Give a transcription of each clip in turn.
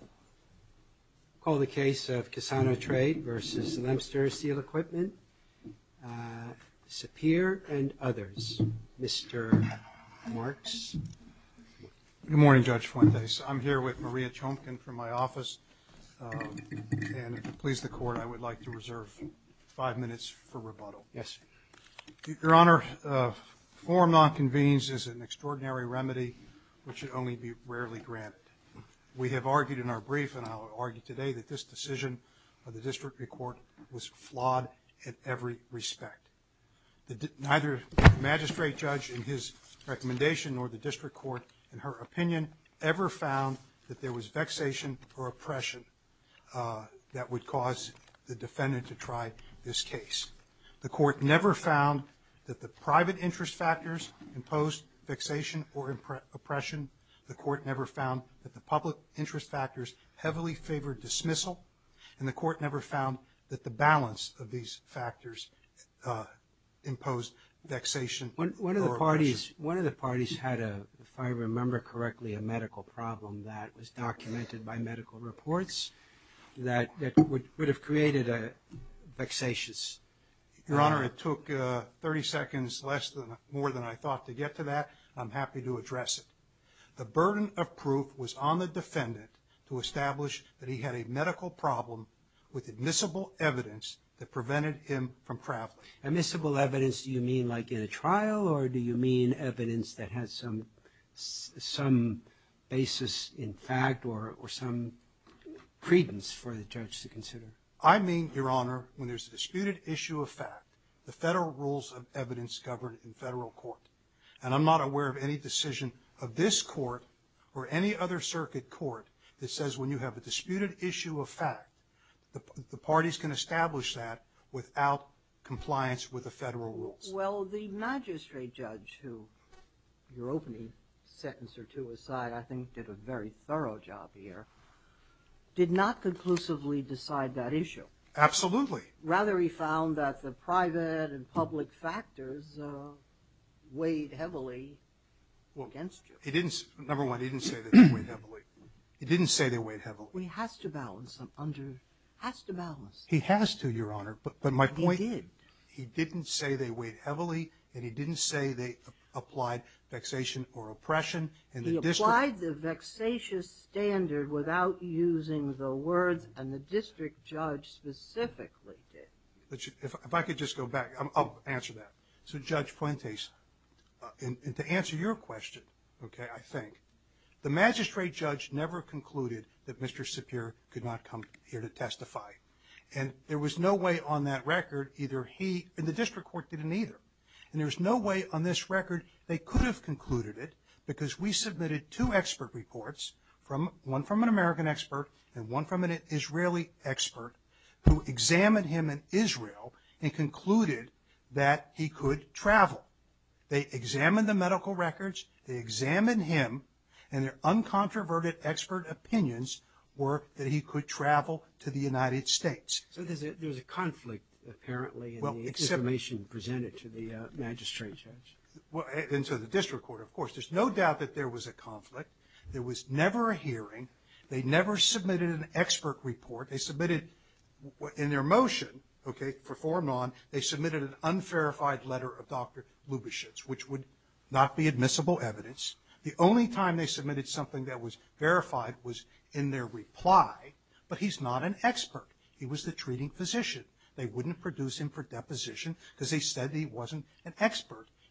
I call the case of Kisano Trade v. Lemster Steel Equipment, Sapir and others. Mr. Marks. Good morning Judge Fuentes. I'm here with Maria Chomkin from my office and to please the court I would like to reserve five minutes for rebuttal. Yes. Your Honor, a form not convened is an extraordinary remedy which should only be rarely granted. We have argued in our brief and I'll argue today that this decision of the district court was flawed in every respect. Neither magistrate judge in his recommendation nor the district court in her opinion ever found that there was vexation or oppression that would cause the defendant to try this case. The court never found that the private interest factors imposed vexation or oppression. The court never found that the public interest factors heavily favored dismissal and the court never found that the balance of these factors imposed vexation. One of the parties, one of the parties had a, if I remember correctly, a medical problem that was documented by medical reports that would have created a vexatious. Your Honor, it took 30 seconds less than more than I thought to get to that. I'm happy to address it. The burden of proof was on the defendant to establish that he had a medical problem with admissible evidence that prevented him from traveling. Admissible evidence do you mean like in a trial or do you mean evidence that has some some basis in fact or some credence for the judge to consider? I mean, Your Honor, when I'm not aware of any decision of this court or any other circuit court that says when you have a disputed issue of fact, the parties can establish that without compliance with the federal rules. Well, the magistrate judge, who your opening sentence or two aside, I think did a very thorough job here, did not conclusively decide that issue. Absolutely. Rather, he found that the public factors weighed heavily against you. Well, he didn't, number one, he didn't say that they weighed heavily. He didn't say they weighed heavily. Well, he has to balance them under, he has to balance them. He has to, Your Honor, but my point... He did. He didn't say they weighed heavily and he didn't say they applied vexation or oppression and the district... He applied the vexatious standard without using the words and the district judge specifically did. If I could just go back, I'll answer that. So, Judge Puentes, to answer your question, okay, I think the magistrate judge never concluded that Mr. Sapir could not come here to testify and there was no way on that record either he and the district court didn't either and there's no way on this record they could have concluded it because we submitted two expert reports, one from an American expert and one from an Israeli expert, who examined him in Israel and concluded that he could travel. They examined the medical records, they examined him, and their uncontroverted expert opinions were that he could travel to the United States. So there's a conflict, apparently, in the information presented to the magistrate judge. And to the district court, of course. There's no doubt that there was a conflict. There was never a hearing. They never submitted an expert report. They submitted, in their motion, okay, performed on, they submitted an unverified letter of Dr. Lubashitz, which would not be admissible evidence. The only time they submitted something that was verified was in their reply, but he's not an expert. He was the treating physician. They wouldn't produce him for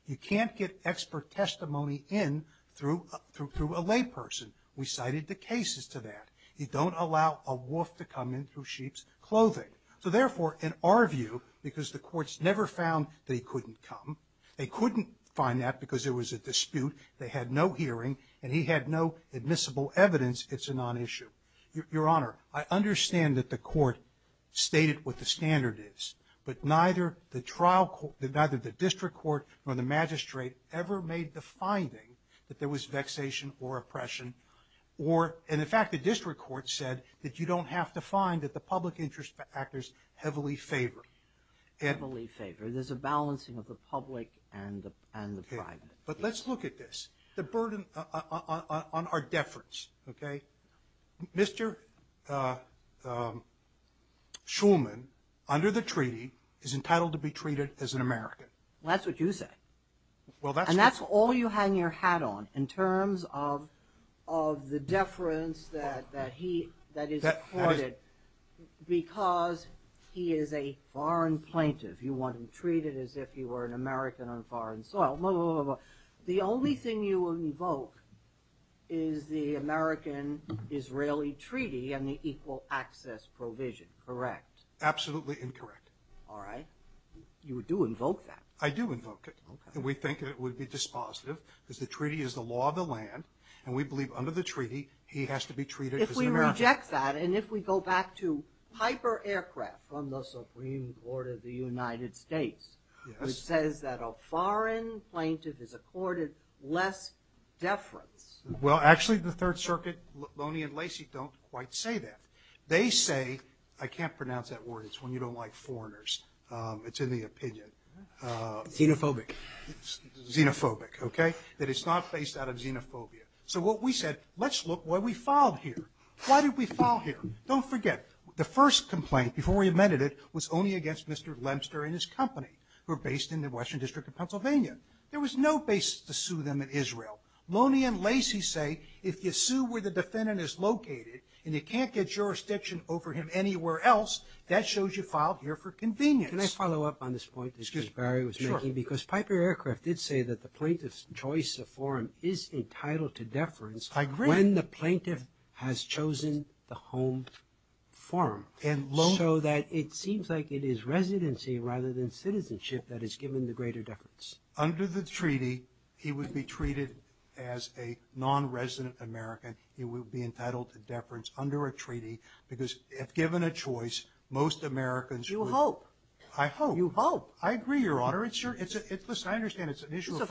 He can't get expert testimony in through a layperson. We cited the cases to that. You don't allow a wolf to come in through sheep's clothing. So therefore, in our view, because the courts never found that he couldn't come, they couldn't find that because there was a dispute, they had no hearing, and he had no admissible evidence, it's a non-issue. Your Honor, I understand that the court stated what the standard is, but neither the trial court, neither the district court, nor the magistrate ever made the finding that there was vexation or oppression, or, and in fact, the district court said that you don't have to find that the public interest factors heavily favor. Heavily favor. There's a balancing of the public and the private. But let's look at this. The burden on our deference, okay? Mr. Shulman, under the treaty, is entitled to be treated as an immigrant. That's what you say. And that's all you hang your hat on in terms of the deference that he, that is afforded because he is a foreign plaintiff. You want him treated as if he were an American on foreign soil. The only thing you invoke is the American-Israeli treaty and the equal access provision, correct? Absolutely incorrect. All right. You do invoke that. I do invoke it. We think it would be dispositive because the treaty is the law of the land, and we believe under the treaty he has to be treated as an American. If we reject that, and if we go back to Piper Aircraft from the Supreme Court of the United States, which says that a foreign plaintiff is accorded less deference. Well, actually the Third Amendment says that word. It's when you don't like foreigners. It's in the opinion. Xenophobic. Xenophobic, okay? That it's not based out of xenophobia. So what we said, let's look why we filed here. Why did we file here? Don't forget, the first complaint before we amended it was only against Mr. Lemster and his company, who are based in the Western District of Pennsylvania. There was no basis to sue them in Israel. Loney and Lacey say if you sue where the defendant is located and you can't get jurisdiction over him anywhere else, that shows you filed here for convenience. Can I follow up on this point that Mr. Barry was making? Because Piper Aircraft did say that the plaintiff's choice of forum is entitled to deference when the plaintiff has chosen the home forum. So that it seems like it is residency rather than citizenship that is given the greater deference. Under the treaty, he would be treated as a non-resident American. He would be entitled to deference under a treaty because, if given a choice, most Americans would... You hope. I hope. You hope. I agree, Your Honor. It's your, it's a, it's, listen, I understand it's an issue of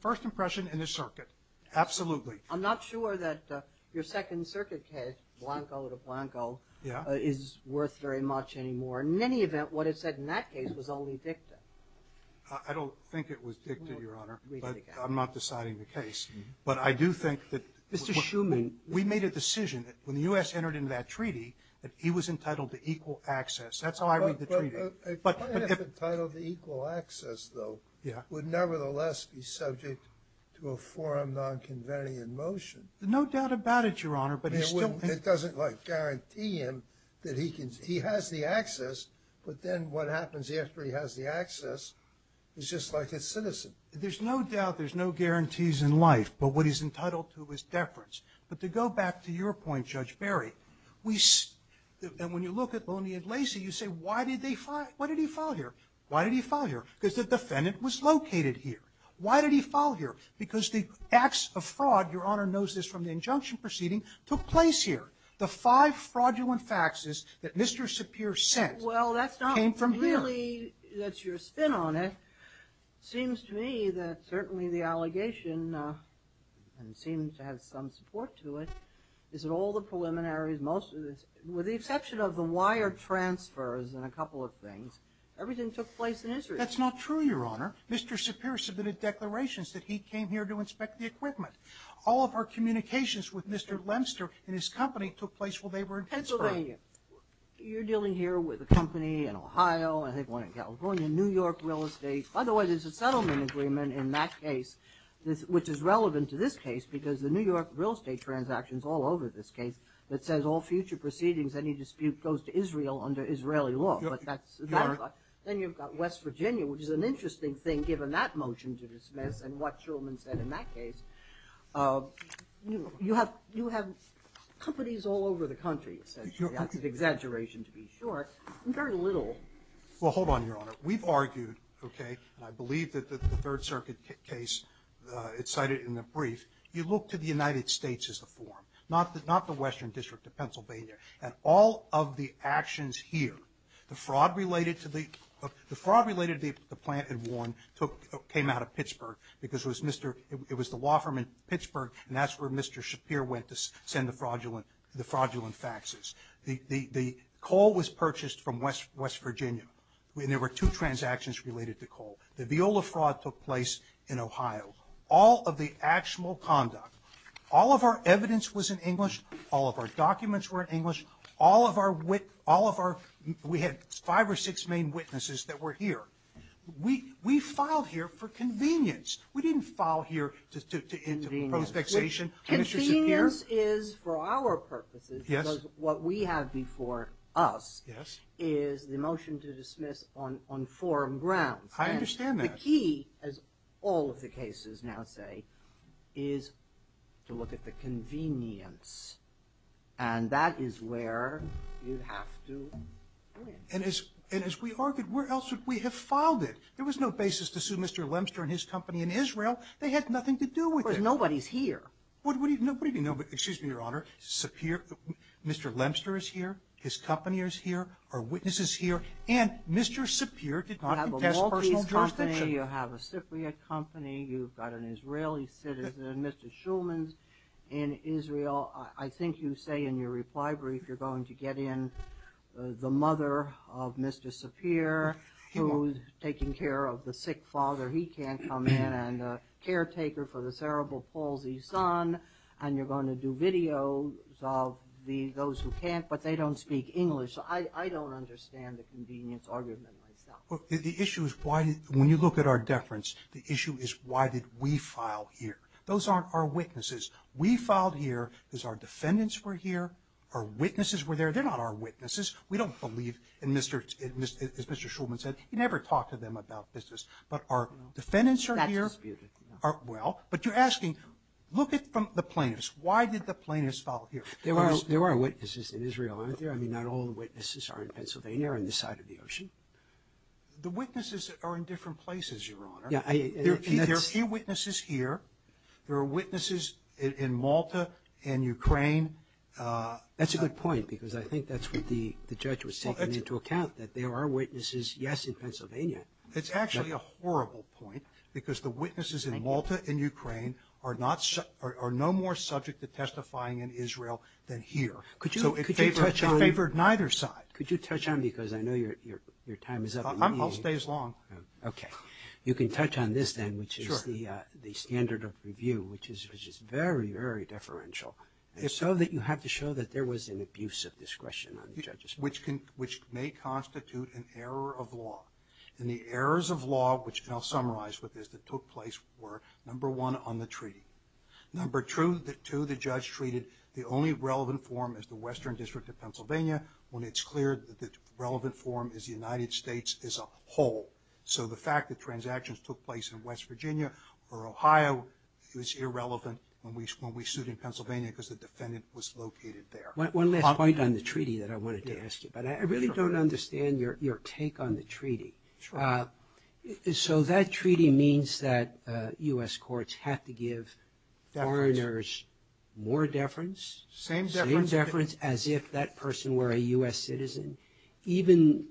first impression and a circuit. Absolutely. I'm not sure that your Second Circuit case, Blanco to Blanco... Yeah. ...is worth very much anymore. In any event, what it said in that case was only dicta. I don't think it was dicta, Your Honor. Read it again. I'm not deciding the case. But I do think that... Mr. Schuman... We made a decision that, when the U.S. entered into that treaty, that he was entitled to equal access. That's how I read the treaty. But a plaintiff entitled to equal access, though... Yeah. ...would nevertheless be subject to a forum non-convening in motion. No doubt about it, Your Honor, but he's still... It doesn't, like, guarantee him that he can, he has the access, but then what happens after he has the access is just like a citizen. There's no doubt, there's no guarantees in life, but what he's entitled to is deference. But to go back to your point, Judge Barry, we... And when you look at Loney and Lacey, you say, why did they file... Why did he file here? Why did he file here? Because the defendant was located here. Why did he file here? Because the acts of fraud, Your Honor knows this from the injunction proceeding, took place here. The five fraudulent faxes that Mr. Sapir sent... Well, that's not... ...came from here. Really, that's your spin on it. It seems to me that certainly the allegation, and it seems to have some support to it, is that all the preliminaries, most of the... With the exception of the wire transfers and a couple of things, everything took place in Israel. That's not true, Your Honor. Mr. Sapir submitted declarations that he came here to inspect the equipment. All of our communications with Mr. Lemster and his company took place while they were in Pittsburgh. Pennsylvania. You're dealing here with a company in Ohio, I think one in California, New York Real Estate. By the way, there's a settlement agreement in that case which is relevant to this case because the New York Real Estate transaction is all over this case that says all future proceedings, any dispute goes to Israel under Israeli law. Then you've got West Virginia, which is an interesting thing given that motion to dismiss and what Shulman said in that case. You have companies all over the country, essentially. That's an exaggeration to be sure. Very little. Well, hold on, Your Honor. We've argued, okay, and I believe that the Third Circuit case, it's cited in the brief, you look to the United States as the forum, not the Western District of Pennsylvania. And all of the actions here, the fraud related to the plant in Warren came out of Pittsburgh because it was the law firm in Pittsburgh and that's where Mr. Shapir went to send the fraudulent faxes. The coal was purchased from West Virginia. There were two transactions related to coal. The Viola fraud took place in Ohio. All of the actual conduct, all of our evidence was in English, all of our documents were in English, all of our, we had five or six main witnesses that were here. We filed here for convenience. We didn't file here to impose vexation on Mr. Shapir. Convenience is for our purposes because what we have before us is the motion to dismiss on forum grounds. I understand that. The key, as all of the cases now say, is to look at the convenience. And that is where you have to go in. And as we argued, where else would we have filed it? There was no basis to sue Mr. Lemster and his company in Israel. They had nothing to do with it. But nobody's here. What do you mean nobody? Excuse me, Your Honor. Mr. Lemster is here. His company is here. Our witness is here. And Mr. Shapir did not contest personal jurisdiction. You have a Maltese company. You have a Cypriot company. You've got an Israeli citizen, Mr. Shulman, in Israel. Well, I think you say in your reply brief you're going to get in the mother of Mr. Shapir, who's taking care of the sick father. He can't come in. And the caretaker for the cerebral palsy son. And you're going to do videos of those who can't. But they don't speak English. So I don't understand the convenience argument myself. The issue is, when you look at our deference, the issue is why did we file here? Those aren't our witnesses. We filed here because our defendants were here. Our witnesses were there. They're not our witnesses. We don't believe, as Mr. Shulman said, you never talk to them about business. But our defendants are here. That's disputed. Well, but you're asking, look at the plaintiffs. Why did the plaintiffs file here? There were our witnesses in Israel, aren't there? I mean, not all the witnesses are in Pennsylvania or on this side of the ocean. The witnesses are in different places, Your Honor. There are two witnesses here. There are witnesses in Malta and Ukraine. That's a good point because I think that's what the judge was taking into account, that there are witnesses, yes, in Pennsylvania. It's actually a horrible point because the witnesses in Malta and Ukraine are no more subject to testifying in Israel than here. So it favored neither side. Could you touch on it because I know your time is up. I'll stay as long. Okay. You can touch on this then, which is the standard of review, which is very, very deferential. So that you have to show that there was an abuse of discretion on the judge's part. Which may constitute an error of law. And the errors of law, which I'll summarize with this, that took place were, number one, on the treaty. Number two, the judge treated the only relevant form as the Western District of Pennsylvania when it's clear that the relevant form is the United States as a whole. So the fact that transactions took place in West Virginia or Ohio was irrelevant when we sued in Pennsylvania because the defendant was located there. One last point on the treaty that I wanted to ask you about. I really don't understand your take on the treaty. So that treaty means that U.S. courts have to give foreigners more deference. Same deference. Same deference as if that person were a U.S. citizen. Even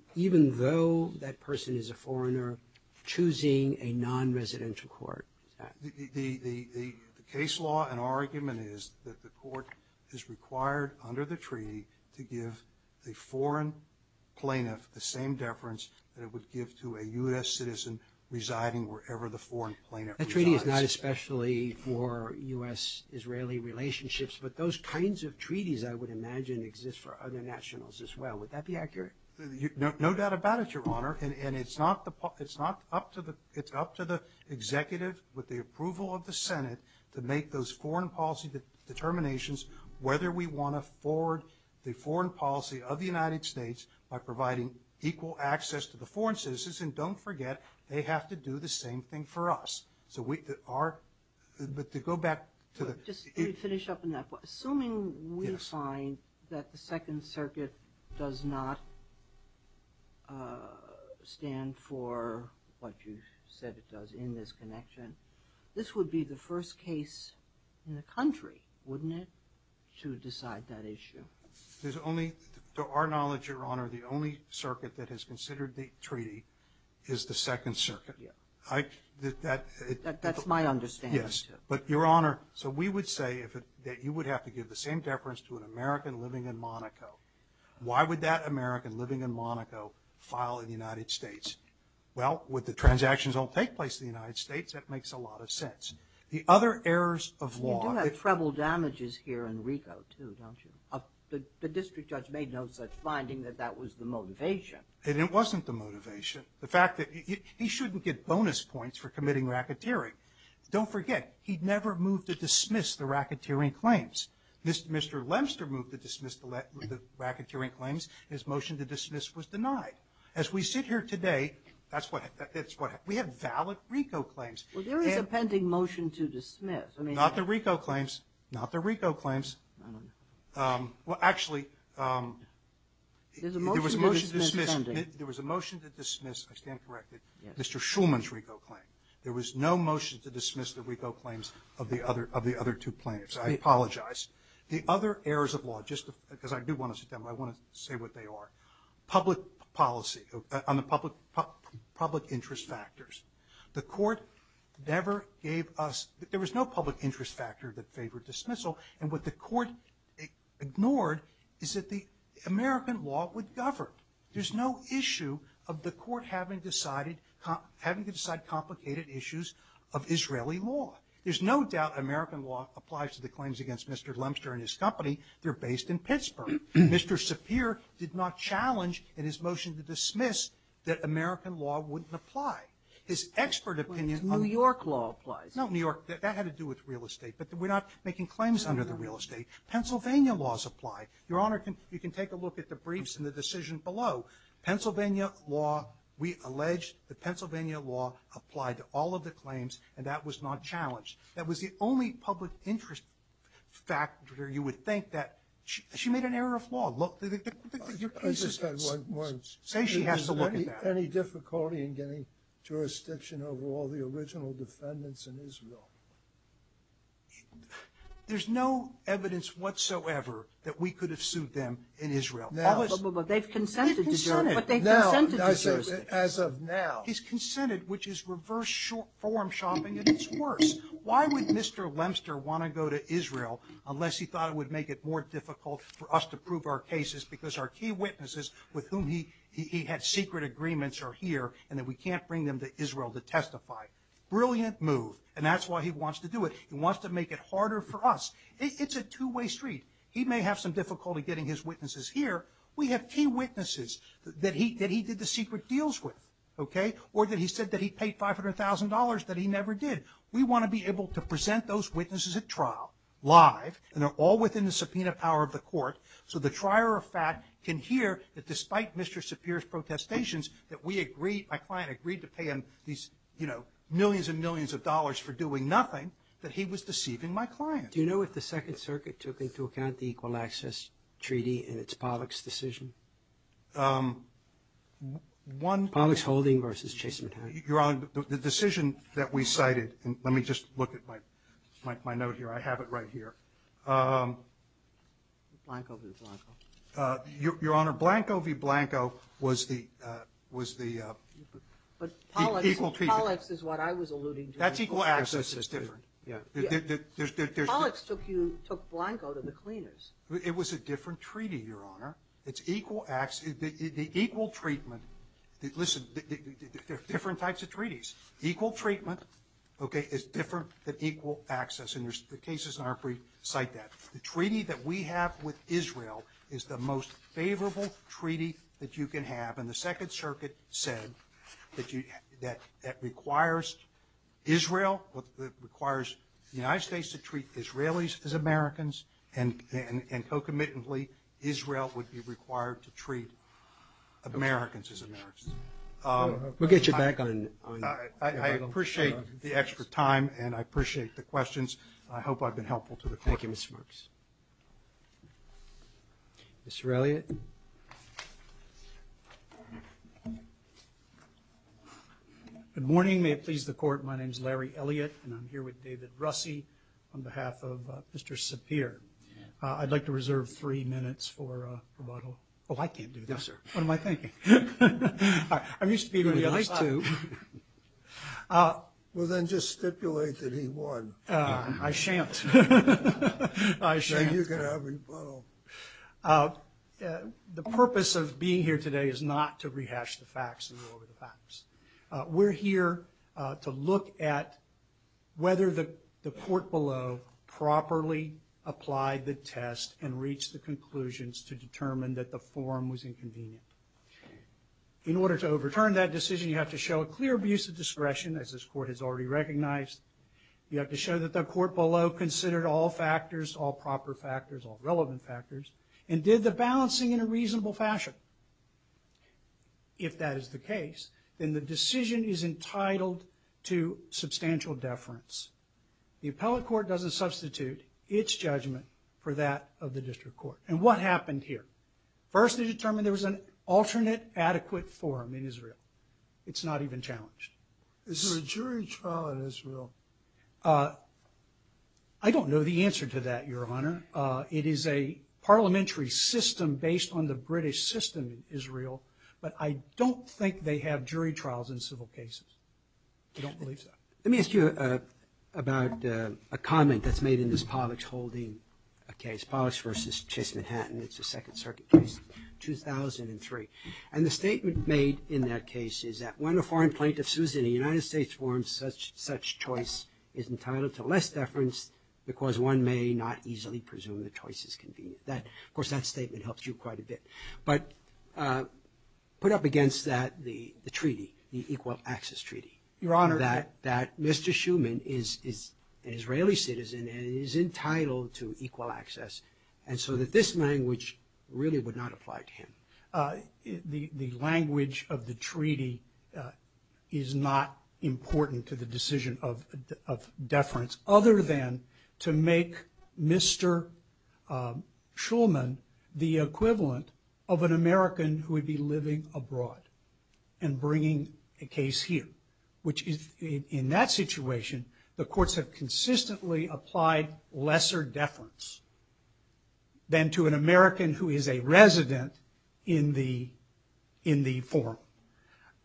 though that person is a foreigner, choosing a non-residential court. The case law and argument is that the court is required under the treaty to give the foreign plaintiff the same deference that it would give to a U.S. citizen residing wherever the foreign plaintiff resides. That treaty is not especially for U.S.-Israeli relationships, but those kinds of treaties, I would imagine, exist for other nationals as well. Would that be accurate? No doubt about it, Your Honor. And it's up to the executive with the approval of the Senate to make those foreign policy determinations whether we want to forward the foreign policy of the United States by providing equal access to the foreign citizens. And don't forget, they have to do the same thing for us. But to go back to the... Just to finish up on that point. Assuming we find that the Second Circuit does not stand for what you said it does in this connection, this would be the first case in the country, wouldn't it, to decide that issue? There's only, to our knowledge, Your Honor, the only circuit that has considered the treaty is the Second Circuit. That's my understanding, too. Yes, but Your Honor, so we would say that you would have to give the same deference to an American living in Monaco. Why would that American living in Monaco file in the United States? Well, with the transactions don't take place in the United States, that makes a lot of sense. The other errors of law... You do have treble damages here in Rico, too, don't you? The district judge made no such finding that that was the motivation. And it wasn't the motivation. The fact that he shouldn't get bonus points for committing racketeering. Don't forget, he never moved to dismiss the racketeering claims. Mr. Lemster moved to dismiss the racketeering claims. His motion to dismiss was denied. As we sit here today, we have valid Rico claims. Well, there is a pending motion to dismiss. Not the Rico claims. Not the Rico claims. Well, actually, there was a motion to dismiss. I stand corrected. Mr. Shulman's Rico claim. There was no motion to dismiss the Rico claims of the other two plaintiffs. I apologize. The other errors of law, just because I do want to sit down, but I want to say what they are. Public policy, on the public interest factors. The court never gave us... There was no public interest factor that favored dismissal. And what the court ignored is that the American law would govern. There's no issue of the court having decided, having to decide complicated issues of Israeli law. There's no doubt American law applies to the claims against Mr. Lemster and his company. They're based in Pittsburgh. Mr. Sapir did not challenge in his motion to dismiss that American law wouldn't apply. His expert opinion on... Sotomayor's New York law applies. No, New York. That had to do with real estate. But we're not making claims under the real estate. Pennsylvania laws apply. Your Honor, you can take a look at the briefs and the decision below. Pennsylvania law, we allege that Pennsylvania law applied to all of the claims, and that was not challenged. That was the only public interest factor you would think that... She made an error of law. Look, your case is... I just had one. Say she has to look at that. Any difficulty in getting jurisdiction over all the original defendants in Israel? There's no evidence whatsoever that we could have sued them in Israel. Now... But they've consented to do it. Consented. But they've consented to do it. As of now. He's consented, which is reverse form shopping, and it's worse. Why would Mr. Lemster want to go to Israel unless he thought it would make it more difficult for us to prove our cases because our key witnesses with whom he had secret agreements are here and that we can't bring them to Israel to testify? Brilliant move. And that's why he wants to do it. He wants to make it harder for us. It's a two-way street. He may have some difficulty getting his witnesses here. We have key witnesses that he did the secret deals with, okay, or that he said that he paid $500,000 that he never did. We want to be able to present those witnesses at trial live, and they're all within the subpoena power of the court, so the trier of fact can hear that despite Mr. Pierce's protestations that we agreed, my client agreed to pay him these, you know, millions and millions of dollars for doing nothing, that he was deceiving my client. Do you know if the Second Circuit took into account the Equal Access Treaty in its Pollack's decision? One. Pollack's holding versus Chasem Hatton. Your Honor, the decision that we cited, and let me just look at my note here. I have it right here. Blanco v. Blanco. Your Honor, Blanco v. Blanco was the equal treatment. Pollack's is what I was alluding to. That's Equal Access. Pollack's took Blanco to the cleaners. It was a different treaty, Your Honor. It's Equal Access. The Equal Treatment, listen, there are different types of treaties. Equal Treatment, okay, is different than Equal Access, and the cases in our brief cite that. The treaty that we have with Israel is the most favorable treaty that you can have, and the Second Circuit said that requires Israel, requires the United States to treat Israelis as Americans, and co-committantly Israel would be required to treat Americans as Americans. We'll get you back on it. Thank you, Mr. Marks. Mr. Elliott. Good morning. May it please the Court, my name is Larry Elliott, and I'm here with David Russi on behalf of Mr. Sapir. I'd like to reserve three minutes for rebuttal. Oh, I can't do that. Yes, sir. What am I thinking? I'm used to being on the other side. We'd like to. Well, then just stipulate that he won. I shan't. I shan't. Then you can have rebuttal. The purpose of being here today is not to rehash the facts and go over the facts. We're here to look at whether the court below properly applied the test and reached the conclusions to determine that the form was inconvenient. In order to overturn that decision, you have to show a clear abuse of discretion, as this Court has already recognized. You have to show that the court below considered all factors, all proper factors, all relevant factors, and did the balancing in a reasonable fashion. If that is the case, then the decision is entitled to substantial deference. The appellate court doesn't substitute its judgment for that of the district court. And what happened here? First, they determined there was an alternate adequate forum in Israel. It's not even challenged. Is there a jury trial in Israel? I don't know the answer to that, Your Honor. It is a parliamentary system based on the British system in Israel, but I don't think they have jury trials in civil cases. I don't believe so. Let me ask you about a comment that's made in this Povich holding case, Povich v. Chase Manhattan. It's a Second Circuit case, 2003. And the statement made in that case is that when a foreign plaintiff sues in a United States forum, such choice is entitled to less deference because one may not easily presume the choice is convenient. Of course, that statement helps you quite a bit. But put up against that the treaty, the Equal Access Treaty. Your Honor. That Mr. Shuman is an Israeli citizen and is entitled to equal access, and so that this language really would not apply to him. The language of the treaty is not important to the decision of deference other than to make Mr. Shuman the equivalent of an American who would be living abroad and bringing a case here, which in that situation, the courts have consistently applied lesser deference than to an American who is a resident in the forum.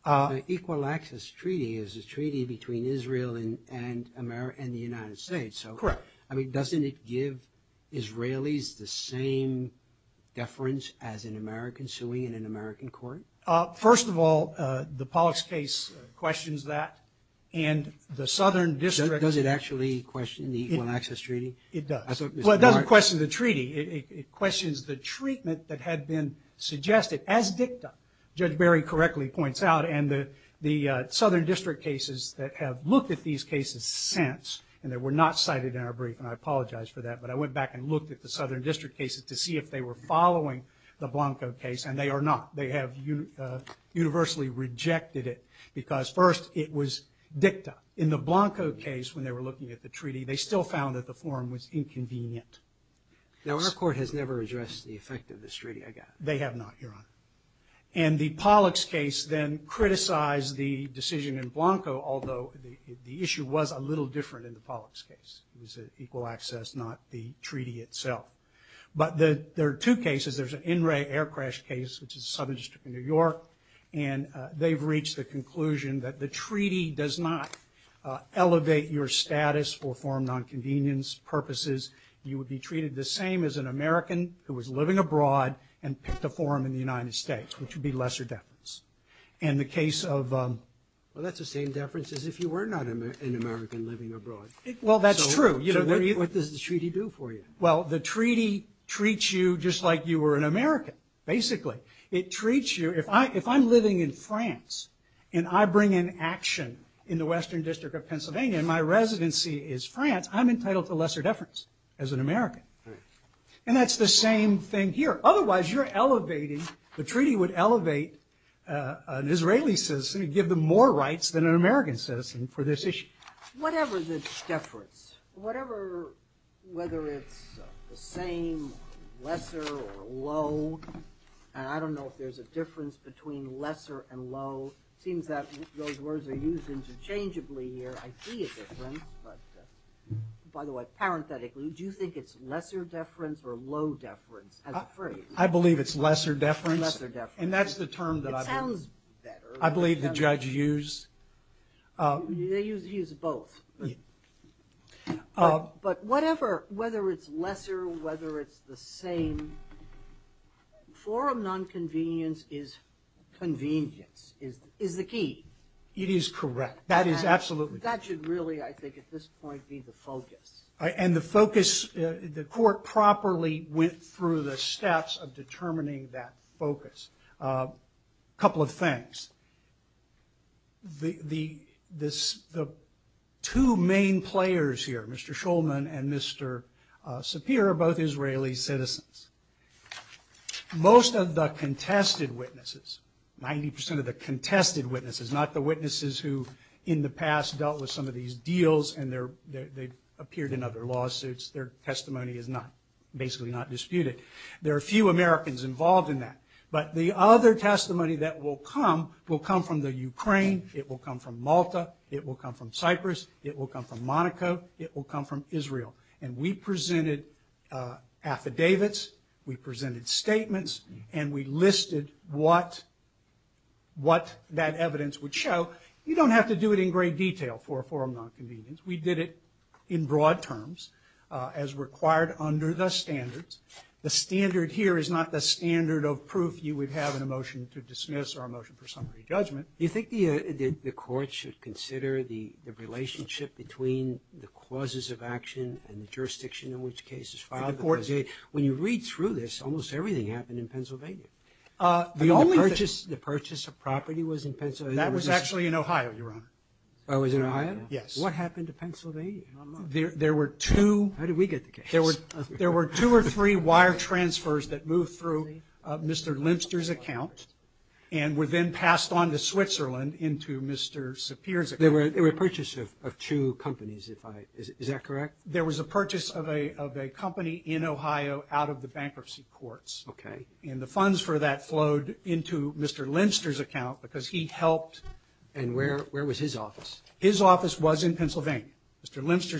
The Equal Access Treaty is a treaty between Israel and the United States. Correct. I mean, doesn't it give Israelis the same deference as an American suing in an American court? First of all, the Povich case questions that, and the Southern District. Does it actually question the Equal Access Treaty? It does. Well, it doesn't question the treaty. It questions the treatment that had been suggested as dicta. Judge Berry correctly points out, and the Southern District cases that have looked at these cases since, and they were not cited in our brief, and I apologize for that, but I went back and looked at the Southern District cases to see if they were following the Blanco case, and they are not. They have universally rejected it because, first, it was dicta. In the Blanco case, when they were looking at the treaty, they still found that the forum was inconvenient. Now, our court has never addressed the effect of this treaty again. They have not, Your Honor. And the Pollux case then criticized the decision in Blanco, although the issue was a little different in the Pollux case. It was Equal Access, not the treaty itself. But there are two cases. There's an NRA air crash case, which is the Southern District of New York, and they've reached the conclusion that the treaty does not elevate your status for forum nonconvenience purposes. You would be treated the same as an American who was living abroad and picked a forum in the United States, which would be lesser deference. And the case of – Well, that's the same deference as if you were not an American living abroad. Well, that's true. So what does the treaty do for you? Well, the treaty treats you just like you were an American, basically. It treats you – if I'm living in France and I bring an action in the Western District of Pennsylvania and my residency is France, I'm entitled to lesser deference as an American. And that's the same thing here. Otherwise, you're elevating – the treaty would elevate an Israeli citizen and give them more rights than an American citizen for this issue. Whatever the deference, whatever – whether it's the same, lesser, or low – and I don't know if there's a difference between lesser and low. It seems that those words are used interchangeably here. I see a difference, but – by the way, parenthetically, do you think it's lesser deference or low deference as a phrase? I believe it's lesser deference. And that's the term that I believe the judge used. They use both. But whatever – whether it's lesser, whether it's the same – forum nonconvenience is convenience, is the key. It is correct. That is absolutely correct. That should really, I think, at this point, be the focus. And the focus – the court properly went through the steps of determining that focus. A couple of things. The two main players here, Mr. Shulman and Mr. Sapir, are both Israeli citizens. Most of the contested witnesses – 90 percent of the contested witnesses, not the witnesses who in the past dealt with some of these deals and they appeared in other lawsuits. Their testimony is not – basically not disputed. There are few Americans involved in that. But the other testimony that will come will come from the Ukraine, it will come from Malta, it will come from Cyprus, it will come from Monaco, it will come from Israel. And we presented affidavits, we presented statements, and we listed what that evidence would show. You don't have to do it in great detail for a forum nonconvenience. We did it in broad terms as required under the standards. The standard here is not the standard of proof you would have in a motion to dismiss or a motion for summary judgment. Do you think the court should consider the relationship between the causes of action and the jurisdiction in which the case is filed? The court – When you read through this, almost everything happened in Pennsylvania. The only thing – The purchase of property was in Pennsylvania. That was actually in Ohio, Your Honor. Oh, it was in Ohio? Yes. What happened to Pennsylvania? There were two – How did we get the case? There were two or three wire transfers that moved through Mr. Limster's account and were then passed on to Switzerland into Mr. Sapir's account. They were a purchase of two companies, is that correct? There was a purchase of a company in Ohio out of the bankruptcy courts. Okay. And the funds for that flowed into Mr. Limster's account because he helped – And where was his office? Mr. Limster's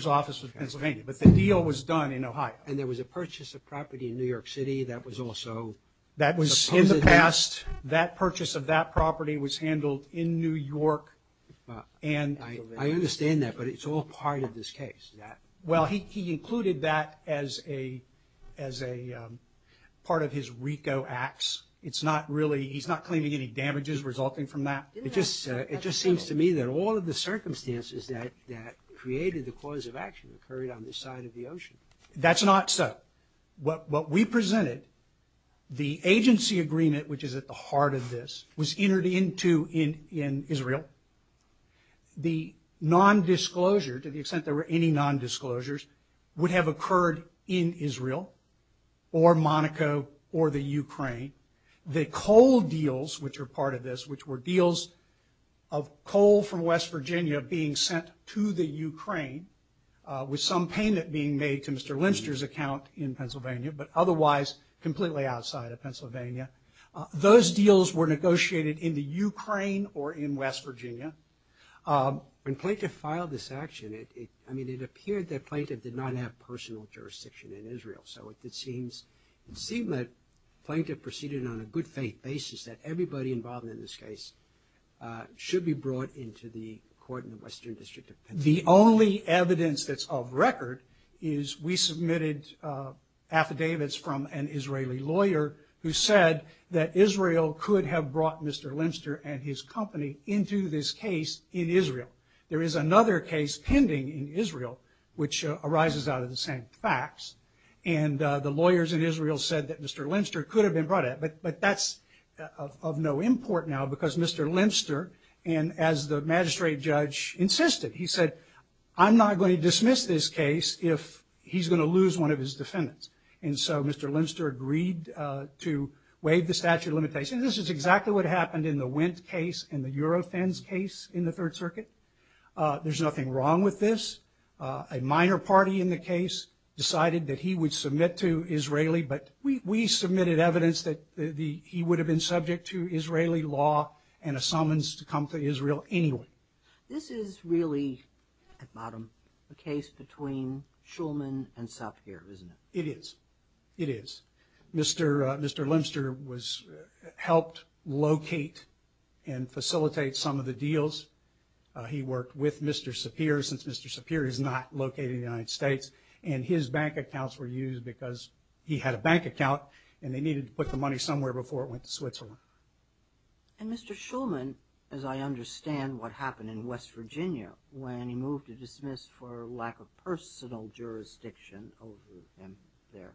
office was in Pennsylvania. But the deal was done in Ohio. And there was a purchase of property in New York City that was also supposed to – That was in the past. That purchase of that property was handled in New York and – I understand that, but it's all part of this case. Well, he included that as a part of his RICO acts. It's not really – he's not claiming any damages resulting from that. It just seems to me that all of the circumstances that created the cause of action occurred on this side of the ocean. That's not so. What we presented, the agency agreement, which is at the heart of this, was entered into in Israel. The nondisclosure, to the extent there were any nondisclosures, would have occurred in Israel or Monaco or the Ukraine. The coal deals, which are part of this, which were deals of coal from West Virginia being sent to the Ukraine, with some payment being made to Mr. Limster's account in Pennsylvania, but otherwise completely outside of Pennsylvania. Those deals were negotiated in the Ukraine or in West Virginia. When Plaintiff filed this action, I mean it appeared that Plaintiff did not have personal jurisdiction in Israel. So it seems that Plaintiff proceeded on a good faith basis that everybody involved in this case should be brought into the court in the Western District of Pennsylvania. The only evidence that's of record is we submitted affidavits from an Israeli lawyer who said that Israel could have brought Mr. Limster and his company into this case in Israel. There is another case pending in Israel, which arises out of the same facts, and the lawyers in Israel said that Mr. Limster could have been brought in, but that's of no import now because Mr. Limster, and as the magistrate judge insisted, he said, I'm not going to dismiss this case if he's going to lose one of his defendants. And so Mr. Limster agreed to waive the statute of limitations. This is exactly what happened in the Wendt case and the Eurofins case in the Third Circuit. There's nothing wrong with this. A minor party in the case decided that he would submit to Israeli, but we submitted evidence that he would have been subject to Israeli law and a summons to come to Israel anyway. This is really, at bottom, a case between Shulman and Sapir, isn't it? It is. It is. Mr. Limster helped locate and facilitate some of the deals. He worked with Mr. Sapir, since Mr. Sapir is not located in the United States, and his bank accounts were used because he had a bank account and they needed to put the money somewhere before it went to Switzerland. And Mr. Shulman, as I understand what happened in West Virginia when he moved to dismiss for lack of personal jurisdiction over him there,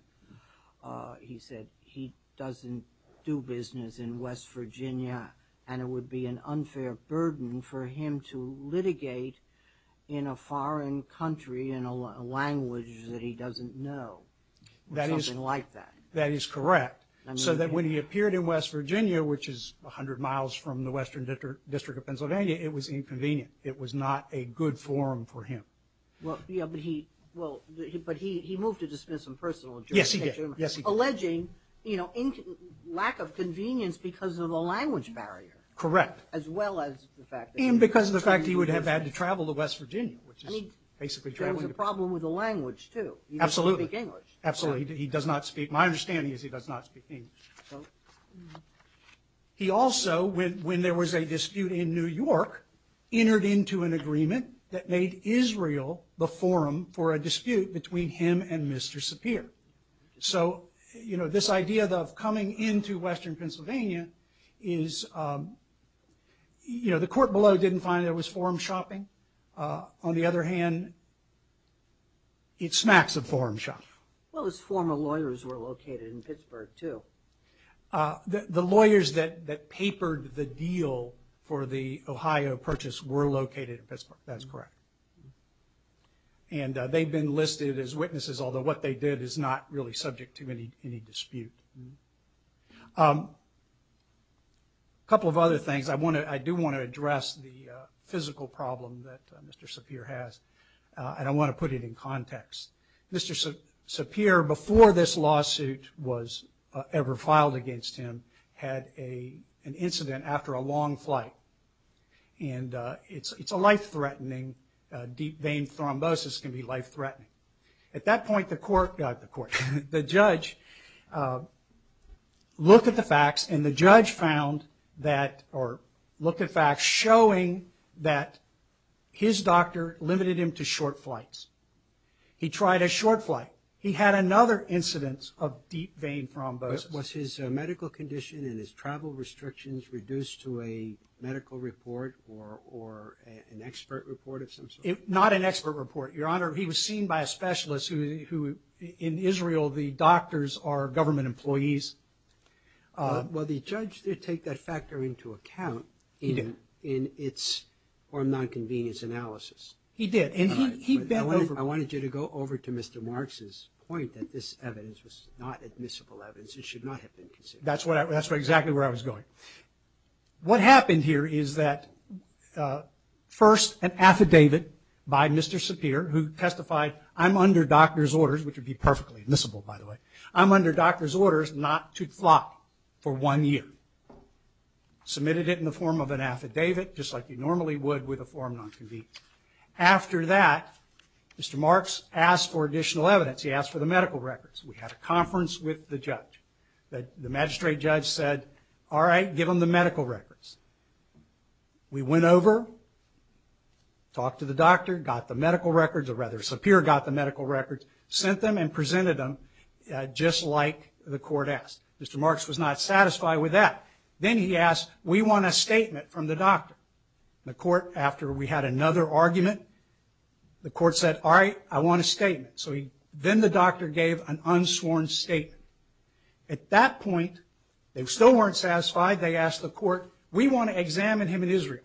he said he doesn't do business in West Virginia and it would be an unfair burden for him to litigate in a foreign country in a language that he doesn't know or something like that. That is correct. So that when he appeared in West Virginia, which is a hundred miles from the Western District of Pennsylvania, it was inconvenient. It was not a good forum for him. But he moved to dismiss him personally. Yes, he did. Alleging, you know, lack of convenience because of the language barrier. Correct. As well as the fact that he was in West Virginia. And because of the fact he would have had to travel to West Virginia, which is basically traveling to Pennsylvania. I mean, there was a problem with the language, too. Absolutely. He doesn't speak English. Absolutely. My understanding is he does not speak English. He also, when there was a dispute in New York, entered into an agreement that made Israel the forum for a dispute between him and Mr. Sapir. So, you know, this idea of coming into Western Pennsylvania is, you know, the court below didn't find there was forum shopping. On the other hand, it smacks of forum shopping. Well, his former lawyers were located in Pittsburgh, too. The lawyers that papered the deal for the Ohio purchase were located in Pittsburgh. That's correct. And they've been listed as witnesses, although what they did is not really subject to any dispute. A couple of other things. I do want to address the physical problem that Mr. Sapir has, and I want to put it in context. Mr. Sapir, before this lawsuit was ever filed against him, had an incident after a long flight. And it's a life-threatening, deep vein thrombosis can be life-threatening. At that point, the court, not the court, the judge looked at the facts, and the judge found that, or looked at facts, showing that his doctor limited him to short flights. He tried a short flight. He had another incidence of deep vein thrombosis. Was his medical condition and his travel restrictions reduced to a medical report or an expert report of some sort? Not an expert report, Your Honor. He was seen by a specialist who, in Israel, the doctors are government employees. Well, the judge did take that factor into account. He did. In its nonconvenience analysis. He did, and he bent over. I wanted you to go over to Mr. Marks' point that this evidence was not admissible evidence. It should not have been considered. That's exactly where I was going. What happened here is that, first, an affidavit by Mr. Sapir, who testified, I'm under doctor's orders, which would be perfectly admissible, by the way. I'm under doctor's orders not to fly for one year. Submitted it in the form of an affidavit, just like you normally would with a form nonconvenient. After that, Mr. Marks asked for additional evidence. He asked for the medical records. We had a conference with the judge. The magistrate judge said, all right, give him the medical records. We went over, talked to the doctor, got the medical records, or rather, Sapir got the medical records, sent them, and presented them, just like the court asked. Mr. Marks was not satisfied with that. Then he asked, we want a statement from the doctor. The court, after we had another argument, the court said, all right, I want a statement. Then the doctor gave an unsworn statement. At that point, they still weren't satisfied. They asked the court, we want to examine him in Israel.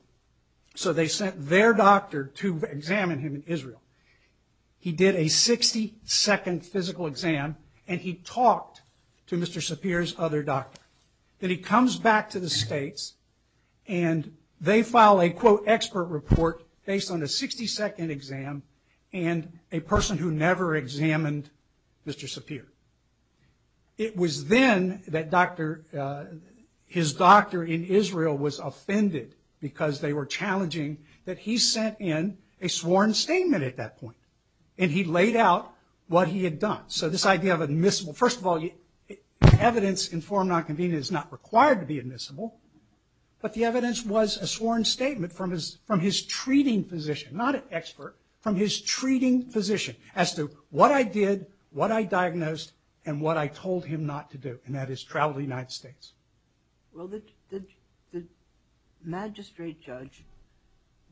So they sent their doctor to examine him in Israel. He did a 60-second physical exam, and he talked to Mr. Sapir's other doctor. Then he comes back to the states, and they file a, quote, expert report, based on a 60-second exam, and a person who never examined Mr. Sapir. It was then that his doctor in Israel was offended because they were challenging that he sent in a sworn statement at that point, and he laid out what he had done. So this idea of admissible, first of all, evidence in forum nonconvenient is not required to be admissible, but the evidence was a sworn statement from his treating physician, not an expert, from his treating physician, as to what I did, what I diagnosed, and what I told him not to do, and that is travel to the United States. Well, the magistrate judge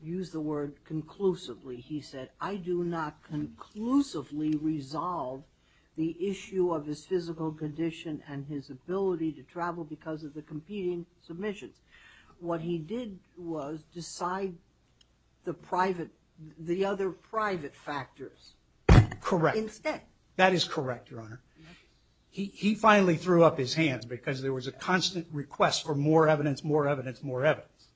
used the word conclusively. He said, I do not conclusively resolve the issue of his physical condition and his ability to travel because of the competing submissions. What he did was decide the private, the other private factors. Correct. Instead. That is correct, Your Honor. He finally threw up his hands because there was a constant request for more evidence, more evidence, more evidence,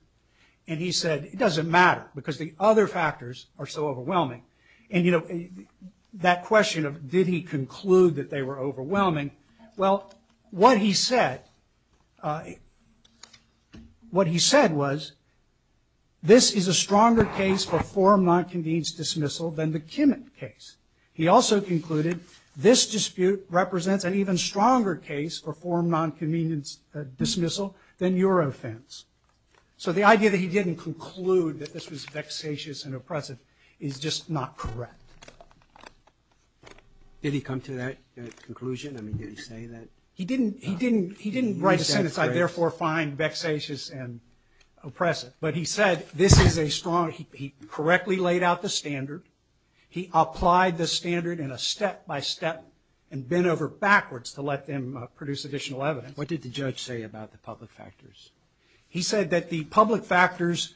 and he said, it doesn't matter because the other factors are so overwhelming, and that question of did he conclude that they were overwhelming, well, what he said, what he said was, this is a stronger case for form non-convenience dismissal than the Kimmitt case. He also concluded, this dispute represents an even stronger case for form non-convenience dismissal than your offense. So the idea that he didn't conclude that this was vexatious and oppressive is just not correct. I mean, did he say that? He didn't write a sentence, I therefore find vexatious and oppressive, but he said, this is a strong, he correctly laid out the standard, he applied the standard in a step-by-step and bent over backwards to let them produce additional evidence. What did the judge say about the public factors? He said that the public factors,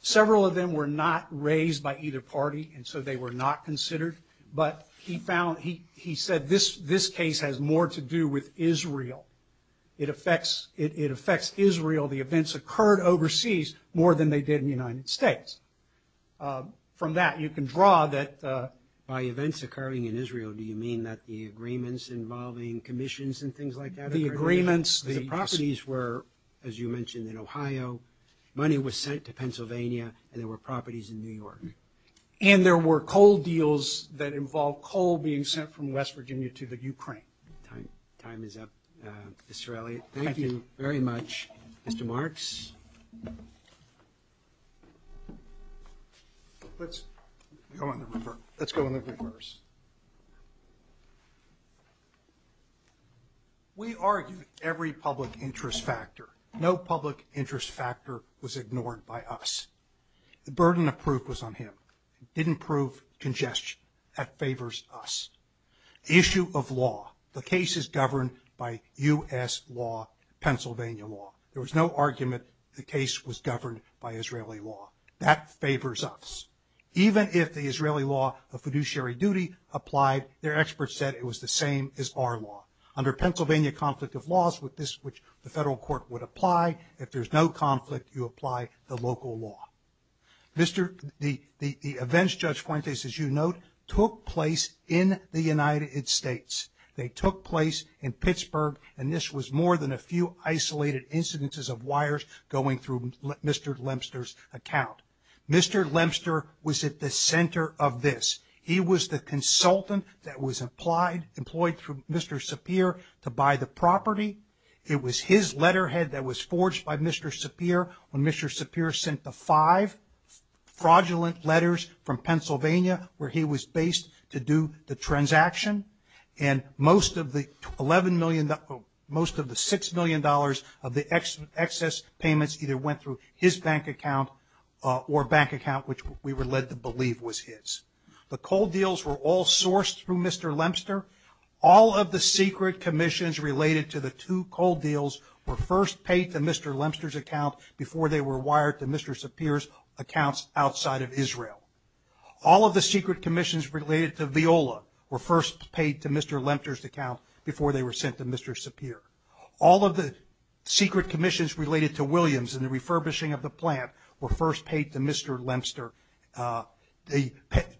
several of them were not raised by either party, and so they were not considered, but he found, he said, this case has more to do with Israel. It affects Israel, the events occurred overseas more than they did in the United States. From that, you can draw that, by events occurring in Israel, do you mean that the agreements involving commissions and things like that? The agreements, the properties were, as you mentioned, in Ohio, money was sent to Pennsylvania, and there were properties in New York. And there were coal deals that involved coal being sent from West Virginia to the Ukraine. Time is up. Mr. Elliott, thank you very much. Mr. Marks? Let's go in the reverse. We argued every public interest factor. No public interest factor was ignored by us. The burden of proof was on him. He didn't prove congestion. That favors us. Issue of law. The case is governed by U.S. law, Pennsylvania law. There was no argument the case was governed by Israeli law. That favors us. Even if the Israeli law of fiduciary duty applied, their experts said it was the same as our law. Under Pennsylvania conflict of laws, which the federal court would apply, if there's no conflict, you apply the local law. The events, Judge Fuentes, as you note, took place in the United States. They took place in Pittsburgh. And this was more than a few isolated incidences of wires going through Mr. Lempster's account. Mr. Lempster was at the center of this. He was the consultant that was employed through Mr. Sapir to buy the property. It was his letterhead that was forged by Mr. Sapir when Mr. Sapir sent the five fraudulent letters from Pennsylvania where he was based to do the transaction. And most of the $6 million of the excess payments either went through his bank account or bank account, which we were led to believe was his. The cold deals were all sourced through Mr. Lempster. All of the secret commissions related to the two cold deals were first paid to Mr. Lempster's account before they were wired to Mr. Sapir's accounts outside of Israel. All of the secret commissions related to Viola were first paid to Mr. Lempster's account before they were sent to Mr. Sapir. All of the secret commissions related to Williams and the refurbishing of the plant were first paid to Mr. Lempster.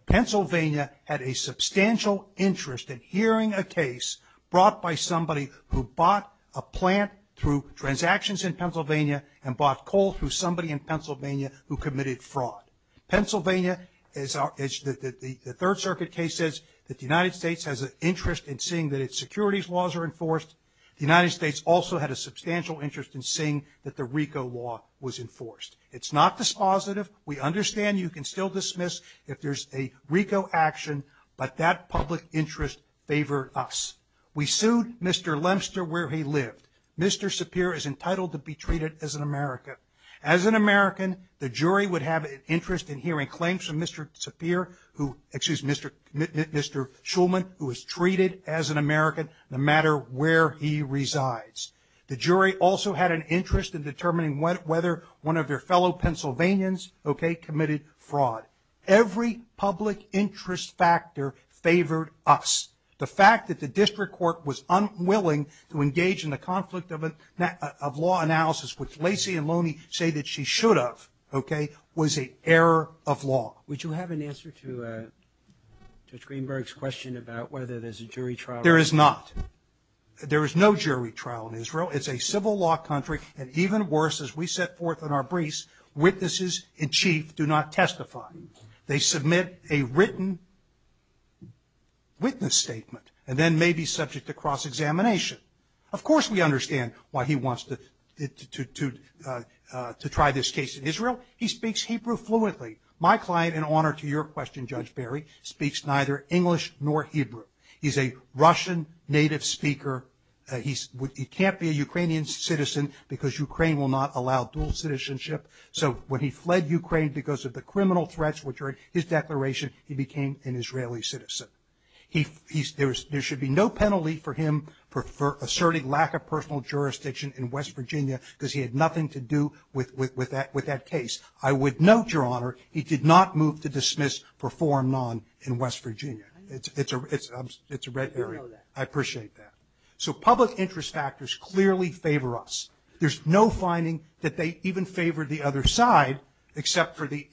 Pennsylvania had a substantial interest in hearing a case brought by somebody who bought a plant through transactions in Pennsylvania and bought coal through somebody in Pennsylvania who committed fraud. Pennsylvania, the Third Circuit case, says that the United States has an interest in seeing that its securities laws are enforced. The United States also had a substantial interest in seeing that the RICO law was enforced. It's not dispositive. We understand you can still dismiss if there's a RICO action, but that public interest favored us. We sued Mr. Lempster where he lived. Mr. Sapir is entitled to be treated as an American. As an American, the jury would have an interest in hearing claims from Mr. Sapir who, excuse me, Mr. Shulman, who was treated as an American no matter where he resides. The jury also had an interest in determining whether one of their fellow Pennsylvanians committed fraud. Every public interest factor favored us. The fact that the district court was unwilling to engage in the conflict of law analysis, which Lacy and Loney say that she should have, okay, was an error of law. Would you have an answer to Judge Greenberg's question about whether there's a jury trial? There is not. There is no jury trial in Israel. It's a civil law country, and even worse, as we set forth in our briefs, witnesses in chief do not testify. They submit a written witness statement and then may be subject to cross-examination. Of course we understand why he wants to try this case in Israel. He speaks Hebrew fluently. My client, in honor to your question, Judge Barry, speaks neither English nor Hebrew. He's a Russian native speaker. He can't be a Ukrainian citizen because Ukraine will not allow dual citizenship. So when he fled Ukraine because of the criminal threats which are in his declaration, he became an Israeli citizen. There should be no penalty for him for asserting lack of personal jurisdiction in West Virginia because he had nothing to do with that case. I would note, Your Honor, he did not move to dismiss perform non in West Virginia. It's a red herring. I appreciate that. So public interest factors clearly favor us. There's no finding that they even favor the other side except for the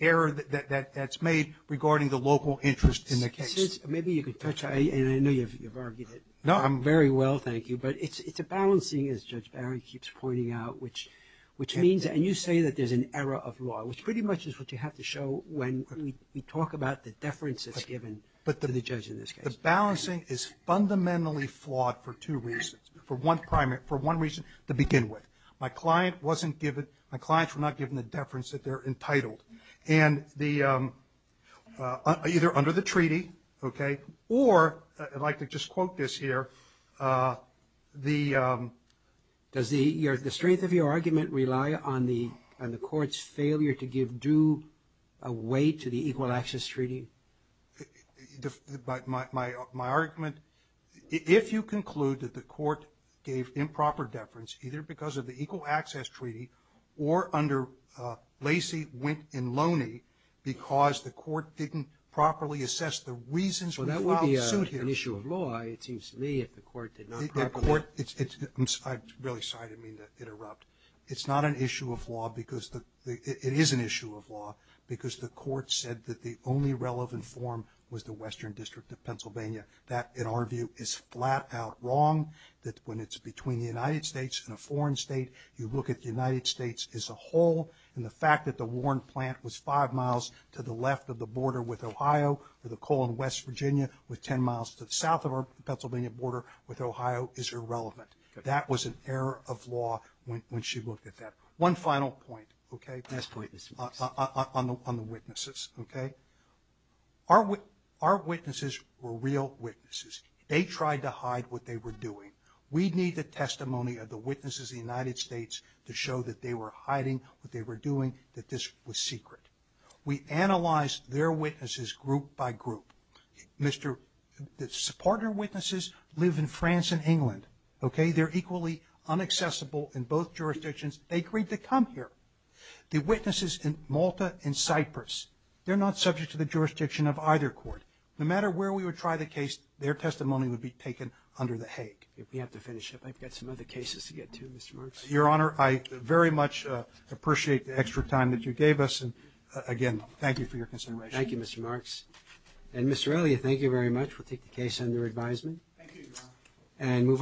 error that's made regarding the local interest in the case. Maybe you can touch on it. I know you've argued it very well, thank you. But it's a balancing, as Judge Barry keeps pointing out, which means that you say that there's an error of law, which pretty much is what you have to show when we talk about the deference that's given to the judge in this case. The balancing is fundamentally flawed for two reasons, for one reason to begin with. My client wasn't given, my clients were not given the deference that they're entitled. And either under the treaty, okay, or I'd like to just quote this here. Does the strength of your argument rely on the court's failure to give due weight to the Equal Access Treaty? My argument, if you conclude that the court gave improper deference either because of the Equal Access Treaty or under Lacey, Wynne, and Loney because the court didn't properly assess the reasons for the lawsuit here. Well, that would be an issue of law, it seems to me, if the court did not properly. The court, I'm really sorry to mean to interrupt. It's not an issue of law because the, it is an issue of law because the court said that the only relevant form was the Western District of Pennsylvania. That, in our view, is flat out wrong, that when it's between the United States and a foreign state, you look at the United States as a whole, and the fact that the Warren plant was five miles to the left of the border with Ohio or the coal in West Virginia with ten miles to the south of our Pennsylvania border with Ohio is irrelevant. That was an error of law when she looked at that. One final point, okay, on the witnesses, okay. Our witnesses were real witnesses. They tried to hide what they were doing. We need the testimony of the witnesses of the United States to show that they were hiding what they were doing, that this was secret. We analyzed their witnesses group by group. The partner witnesses live in France and England, okay. They're equally unaccessible in both jurisdictions. They agreed to come here. The witnesses in Malta and Cyprus, they're not subject to the jurisdiction of either court. No matter where we would try the case, their testimony would be taken under the Hague. We have to finish up. I've got some other cases to get to, Mr. Marks. Your Honor, I very much appreciate the extra time that you gave us. And, again, thank you for your consideration. Thank you, Mr. Marks. And, Mr. Elliott, thank you very much. We'll take the case under advisement. Thank you, Your Honor.